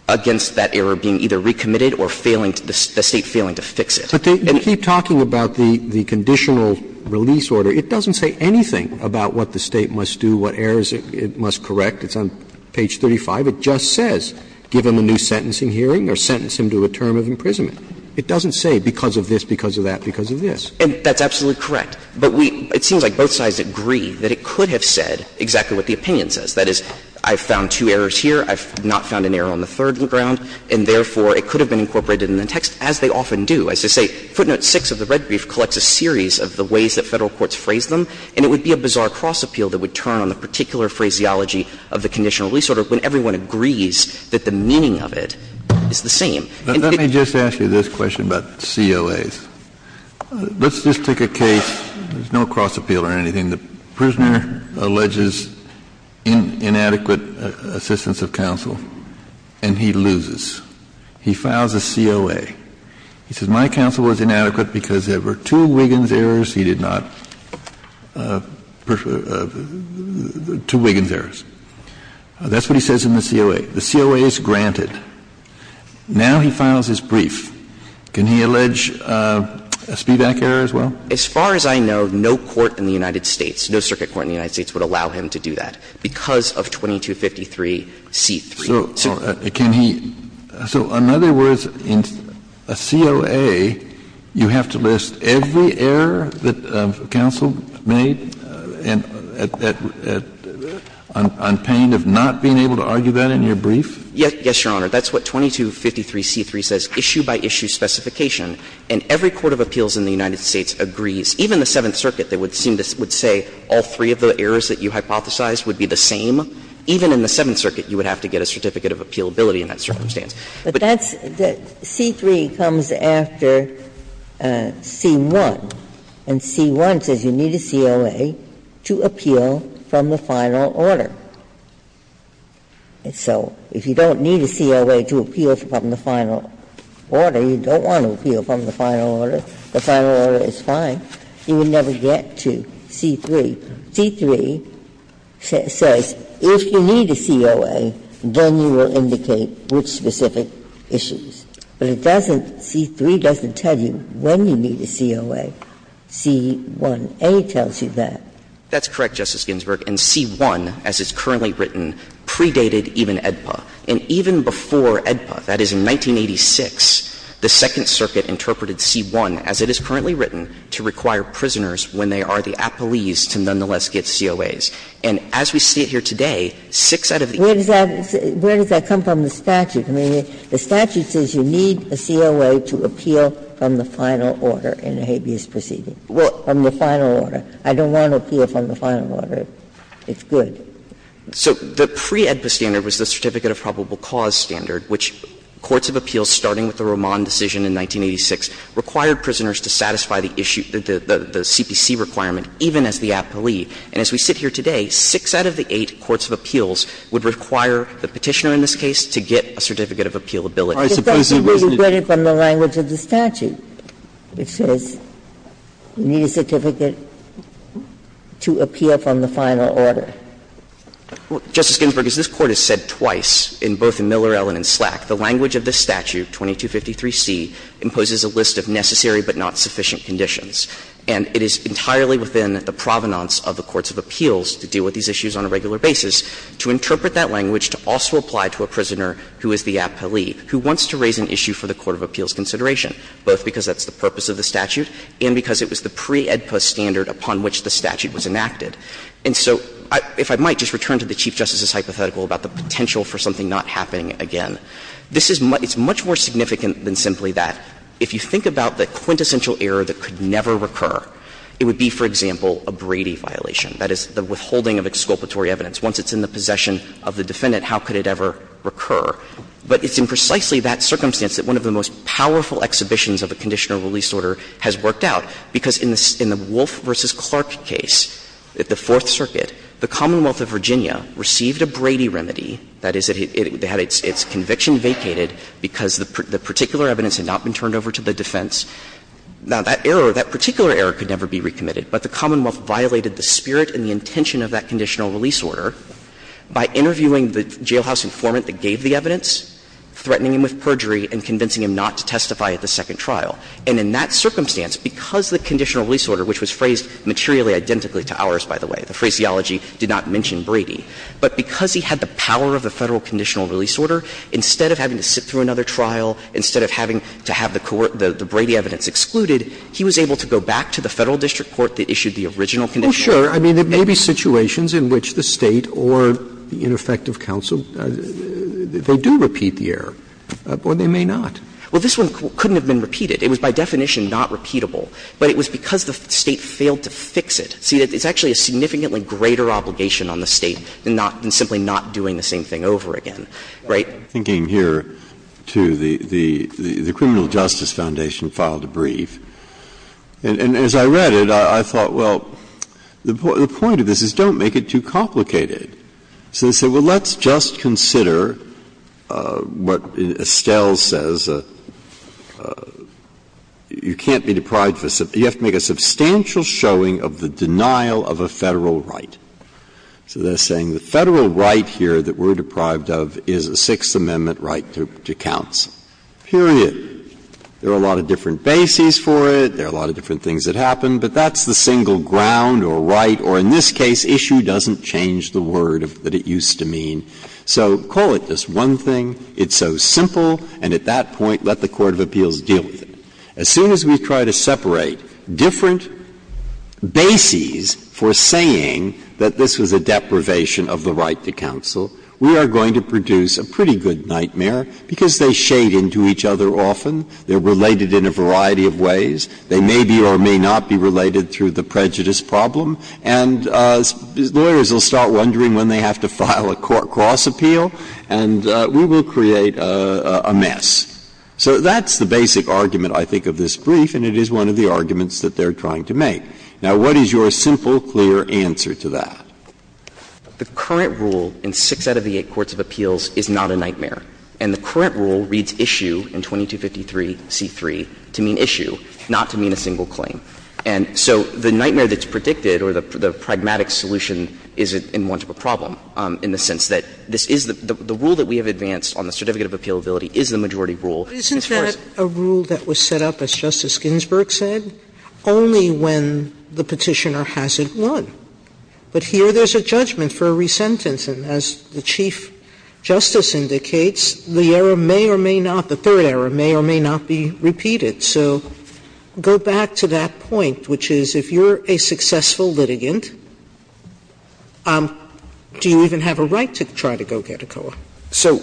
against that error being either recommitted or failing to the State failing to fix it. Roberts. Roberts. But they keep talking about the conditional release order. It doesn't say anything about what the State must do, what errors it must correct. It's on page 35. It just says give him a new sentencing hearing or sentence him to a term of imprisonment. It doesn't say because of this, because of that, because of this. And that's absolutely correct. But we — it seems like both sides agree that it could have said exactly what the opinion says. That is, I found two errors here, I've not found an error on the third ground, and therefore it could have been incorporated in the text, as they often do. As I say, footnote 6 of the red brief collects a series of the ways that Federal courts phrase them, and it would be a bizarre cross-appeal that would turn on the particular phraseology of the conditional release order when everyone agrees that the meaning of it is the same. And if it — Let's just take a case, there's no cross-appeal or anything. The prisoner alleges inadequate assistance of counsel, and he loses. He files a COA. He says my counsel was inadequate because there were two Wiggins errors he did not — two Wiggins errors. That's what he says in the COA. The COA is granted. Now he files his brief. Can he allege a speedback error as well? As far as I know, no court in the United States, no circuit court in the United States would allow him to do that because of 2253c3. So can he — so in other words, in a COA, you have to list every error that counsel made on pain of not being able to argue that in your brief? Yes, Your Honor. That's what 2253c3 says, issue-by-issue specification. And every court of appeals in the United States agrees, even the Seventh Circuit, they would seem to — would say all three of the errors that you hypothesized would be the same. Even in the Seventh Circuit, you would have to get a certificate of appealability in that circumstance. But that's the — c3 comes after c1, and c1 says you need a COA to appeal from the final order. And so if you don't need a COA to appeal from the final order, you don't want to appeal from the final order, the final order is fine, you would never get to c3. c3 says if you need a COA, then you will indicate which specific issues. But it doesn't — c3 doesn't tell you when you need a COA. c1a tells you that. That's correct, Justice Ginsburg. And c1, as is currently written, predated even AEDPA. And even before AEDPA, that is, in 1986, the Second Circuit interpreted c1, as it is currently written, to require prisoners when they are the appellees to nonetheless get COAs. And as we see it here today, six out of the eight— Ginsburg. Where does that come from, the statute? I mean, the statute says you need a COA to appeal from the final order in a habeas proceeding. Well, from the final order. I don't want to appeal from the final order. It's good. So the pre-AEDPA standard was the Certificate of Probable Cause standard, which courts of appeals, starting with the Roman decision in 1986, required prisoners to satisfy the issue, the CPC requirement, even as the appellee. And as we sit here today, six out of the eight courts of appeals would require the Petitioner in this case to get a Certificate of Appeal ability. I suppose it wasn't a— To appeal from the final order. Justice Ginsburg, as this Court has said twice, in both in Miller, Ellen, and Slack, the language of this statute, 2253c, imposes a list of necessary but not sufficient conditions. And it is entirely within the provenance of the courts of appeals to deal with these issues on a regular basis to interpret that language to also apply to a prisoner who is the appellee, who wants to raise an issue for the court of appeals consideration, both because that's the purpose of the statute and because it was the pre-AEDPA standard upon which the statute was enacted. And so if I might just return to the Chief Justice's hypothetical about the potential for something not happening again. This is much more significant than simply that. If you think about the quintessential error that could never recur, it would be, for example, a Brady violation. That is, the withholding of exculpatory evidence. Once it's in the possession of the defendant, how could it ever recur? But it's in precisely that circumstance that one of the most powerful exhibitions of a conditional release order has worked out, because in the Wolf v. Clark case, at the Fourth Circuit, the Commonwealth of Virginia received a Brady remedy, that is, it had its conviction vacated because the particular evidence had not been turned over to the defense. Now, that error, that particular error could never be recommitted, but the Commonwealth violated the spirit and the intention of that conditional release order by interviewing the jailhouse informant that gave the evidence, threatening him with perjury, and convincing him not to testify at the second trial. And in that circumstance, because the conditional release order, which was phrased materially identically to ours, by the way, the phraseology did not mention Brady, but because he had the power of the Federal conditional release order, instead of having to sit through another trial, instead of having to have the Brady evidence excluded, he was able to go back to the Federal district court that issued the original conditional release order. Breyer, I mean, there may be situations in which the State or the ineffective counsel, they do repeat the error, or they may not. Well, this one couldn't have been repeated. It was by definition not repeatable, but it was because the State failed to fix it. See, it's actually a significantly greater obligation on the State than not to simply not doing the same thing over again, right? I'm thinking here to the Criminal Justice Foundation file to brief, and as I read it, I thought, well, the point of this is don't make it too complicated. So they said, well, let's just consider what Estelle says, you can't be deprived of a – you have to make a substantial showing of the denial of a Federal right. So they're saying the Federal right here that we're deprived of is a Sixth Amendment right to counsel, period. There are a lot of different bases for it. There are a lot of different things that happen, but that's the single ground or right or, in this case, issue doesn't change the word that it used to mean. So call it this one thing, it's so simple, and at that point, let the court of appeals deal with it. As soon as we try to separate different bases for saying that this was a deprivation of the right to counsel, we are going to produce a pretty good nightmare, because they shade into each other often. They're related in a variety of ways. They may be or may not be related through the prejudice problem, and lawyers will start wondering when they have to file a cross-appeal, and we will create a mess. So that's the basic argument, I think, of this brief, and it is one of the arguments that they're trying to make. Now, what is your simple, clear answer to that? The current rule in six out of the eight courts of appeals is not a nightmare. And the current rule reads issue in 2253c3 to mean issue, not to mean a single claim. And so the nightmare that's predicted or the pragmatic solution is in want of a problem in the sense that this is the rule that we have advanced on the Certificate of Appealability is the majority rule. Sotomayor, isn't that a rule that was set up, as Justice Ginsburg said, only when the Petitioner has it won? But here there's a judgment for a re-sentence, and as the Chief Justice indicates, the error may or may not, the third error, may or may not be repeated. So go back to that point, which is if you're a successful litigant, do you even have a right to try to go get a COA? So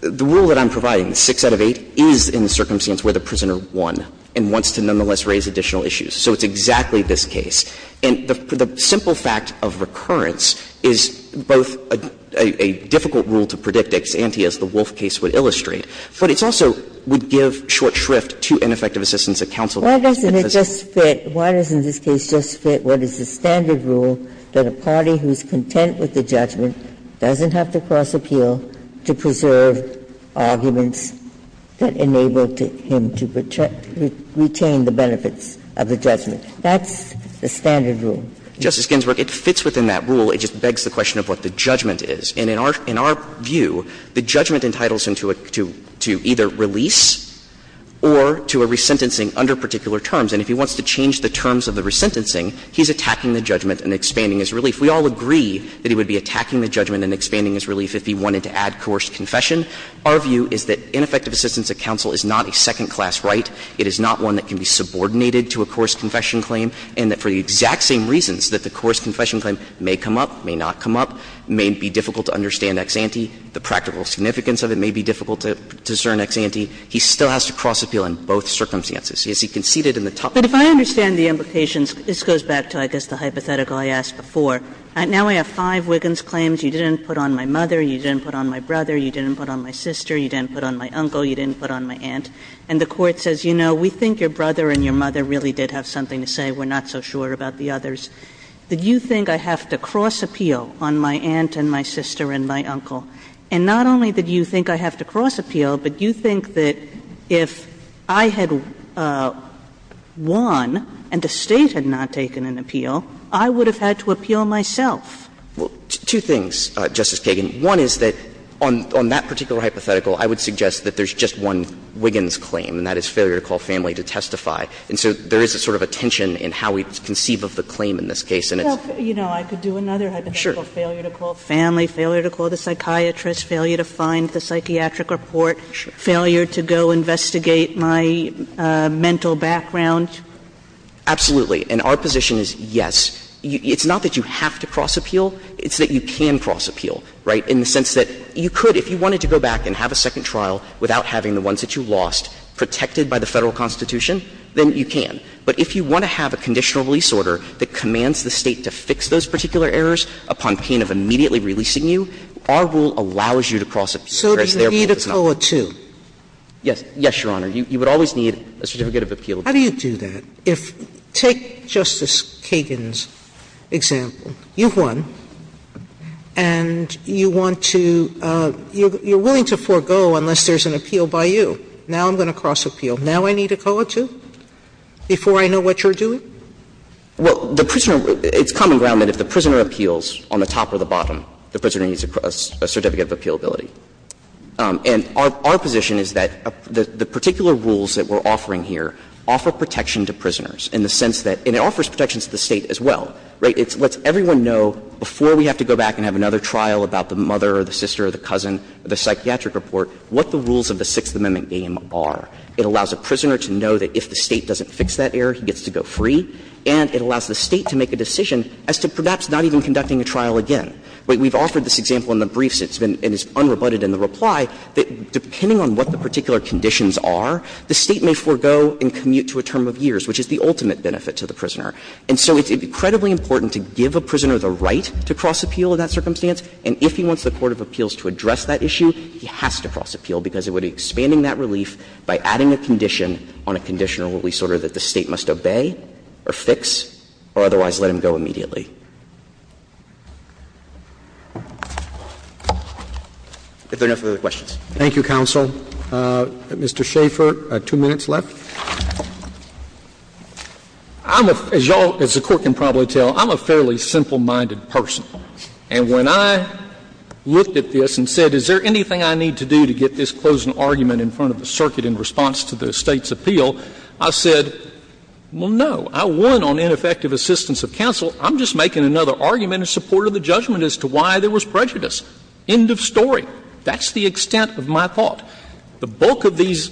the rule that I'm providing, six out of eight, is in the circumstance where the prisoner won and wants to nonetheless raise additional issues. So it's exactly this case. And the simple fact of recurrence is both a difficult rule to predict, ex ante, as the Wolf case would illustrate, but it also would give short shrift to ineffective assistance at counsel. Ginsburg. Why doesn't it just fit, why doesn't this case just fit what is the standard rule that a party who's content with the judgment doesn't have to cross appeal to preserve arguments that enable him to retain the benefits of the judgment? That's the standard rule. Justice Ginsburg, it fits within that rule. It just begs the question of what the judgment is. And in our view, the judgment entitles him to either release or to a re-sentencing under particular terms. And if he wants to change the terms of the re-sentencing, he's attacking the judgment and expanding his relief. We all agree that he would be attacking the judgment and expanding his relief if he wanted to add coerced confession. Our view is that ineffective assistance at counsel is not a second-class right. It is not one that can be subordinated to a coerced confession claim, and that for the exact same reasons that the coerced confession claim may come up, may not come up, may be difficult to understand ex ante, the practical significance of it may be difficult to discern ex ante, he still has to cross appeal in both circumstances. He has conceded in the top. But if I understand the implications, this goes back to, I guess, the hypothetical I asked before. Now I have five Wiggins claims. You didn't put on my mother, you didn't put on my brother, you didn't put on my sister, you didn't put on my uncle, you didn't put on my aunt. And the Court says, you know, we think your brother and your mother really did have something to say. We're not so sure about the others. Did you think I have to cross appeal on my aunt and my sister and my uncle? And not only did you think I have to cross appeal, but you think that if I had won and the State had not taken an appeal, I would have had to appeal myself. Well, two things, Justice Kagan. One is that on that particular hypothetical, I would suggest that there's just one Wiggins claim, and that is failure to call family to testify. And so there is a sort of a tension in how we conceive of the claim in this case. And it's — Well, you know, I could do another hypothetical. Sure. Failure to call family, failure to call the psychiatrist, failure to find the psychiatric report, failure to go investigate my mental background. Absolutely. And our position is, yes. It's not that you have to cross appeal. It's that you can cross appeal, right, in the sense that you could, if you wanted to go back and have a second trial without having the ones that you lost protected by the Federal Constitution, then you can. But if you want to have a conditional release order that commands the State to fix those particular errors upon pain of immediately releasing you, our rule allows you to cross appeal, whereas their rule does not. So do you need a toll or two? Yes. Yes, Your Honor. You would always need a certificate of appeal. How do you do that? If — take Justice Kagan's example. You've won, and you want to — you're willing to forego unless there's an appeal by you. Now I'm going to cross appeal. Now I need a toll or two before I know what you're doing? Well, the prisoner — it's common ground that if the prisoner appeals on the top or the bottom, the prisoner needs a certificate of appealability. And our position is that the particular rules that we're offering here offer protection to prisoners in the sense that — and it offers protection to the State as well, right? It lets everyone know before we have to go back and have another trial about the mother or the sister or the cousin, the psychiatric report, what the rules of the Sixth Amendment game are. It allows a prisoner to know that if the State doesn't fix that error, he gets to go free, and it allows the State to make a decision as to perhaps not even conducting a trial again. We've offered this example in the briefs, and it's been unrebutted in the reply, that depending on what the particular conditions are, the State may forego and commute to a term of years, which is the ultimate benefit to the prisoner. And so it's incredibly important to give a prisoner the right to cross-appeal in that circumstance, and if he wants the court of appeals to address that issue, he has to cross-appeal, because it would be expanding that relief by adding a condition on a conditional release order that the State must obey or fix or otherwise let him go immediately. If there are no further questions. Roberts. Thank you, counsel. Mr. Schaffer, two minutes left. I'm a — as you all — as the Court can probably tell, I'm a fairly simple-minded person. And when I looked at this and said, is there anything I need to do to get this closing argument in front of the circuit in response to the State's appeal, I said, well, no. I won on ineffective assistance of counsel. I'm just making another argument in support of the judgment as to why there was prejudice. End of story. That's the extent of my thought. The bulk of these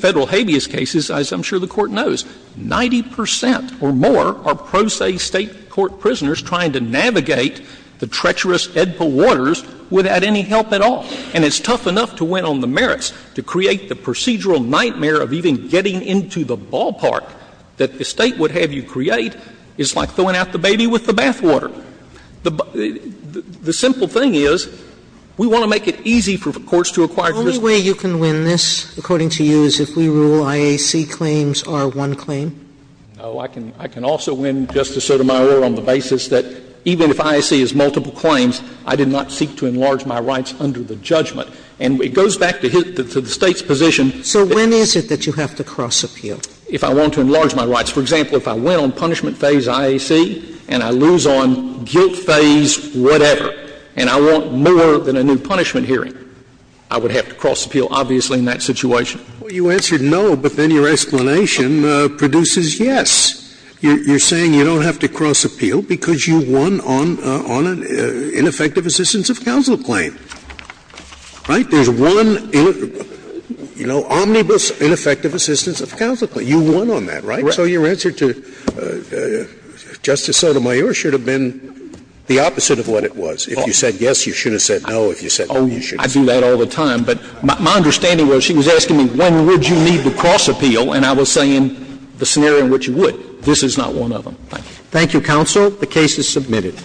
Federal habeas cases, as I'm sure the Court knows, 90 percent or more are pro se State court prisoners trying to navigate the treacherous Edpa waters without any help at all. And it's tough enough to win on the merits to create the procedural nightmare of even getting into the ballpark that the State would have you create. It's like throwing out the baby with the bathwater. The simple thing is, we want to make it easy for courts to acquire prisoners to get into the ballpark. Sotomayor, the only way you can win this, according to you, is if we rule IAC claims are one claim? No. I can also win, Justice Sotomayor, on the basis that even if IAC is multiple claims, I did not seek to enlarge my rights under the judgment. And it goes back to the State's position that you have to cross-appeal. If I want to enlarge my rights, for example, if I win on punishment phase IAC and I lose on guilt phase whatever, and I want more than a new punishment hearing, I would have to cross-appeal, obviously, in that situation. Well, you answered no, but then your explanation produces yes. You're saying you don't have to cross-appeal because you won on an ineffective assistance of counsel claim. Right? There's one, you know, omnibus ineffective assistance of counsel claim. You won on that, right? So your answer to Justice Sotomayor should have been the opposite of what it was. If you said yes, you should have said no. If you said no, you should have said no. Oh, I do that all the time. But my understanding was she was asking me when would you need to cross-appeal, and I was saying the scenario in which you would. This is not one of them. Thank you. Thank you, counsel. The case is submitted.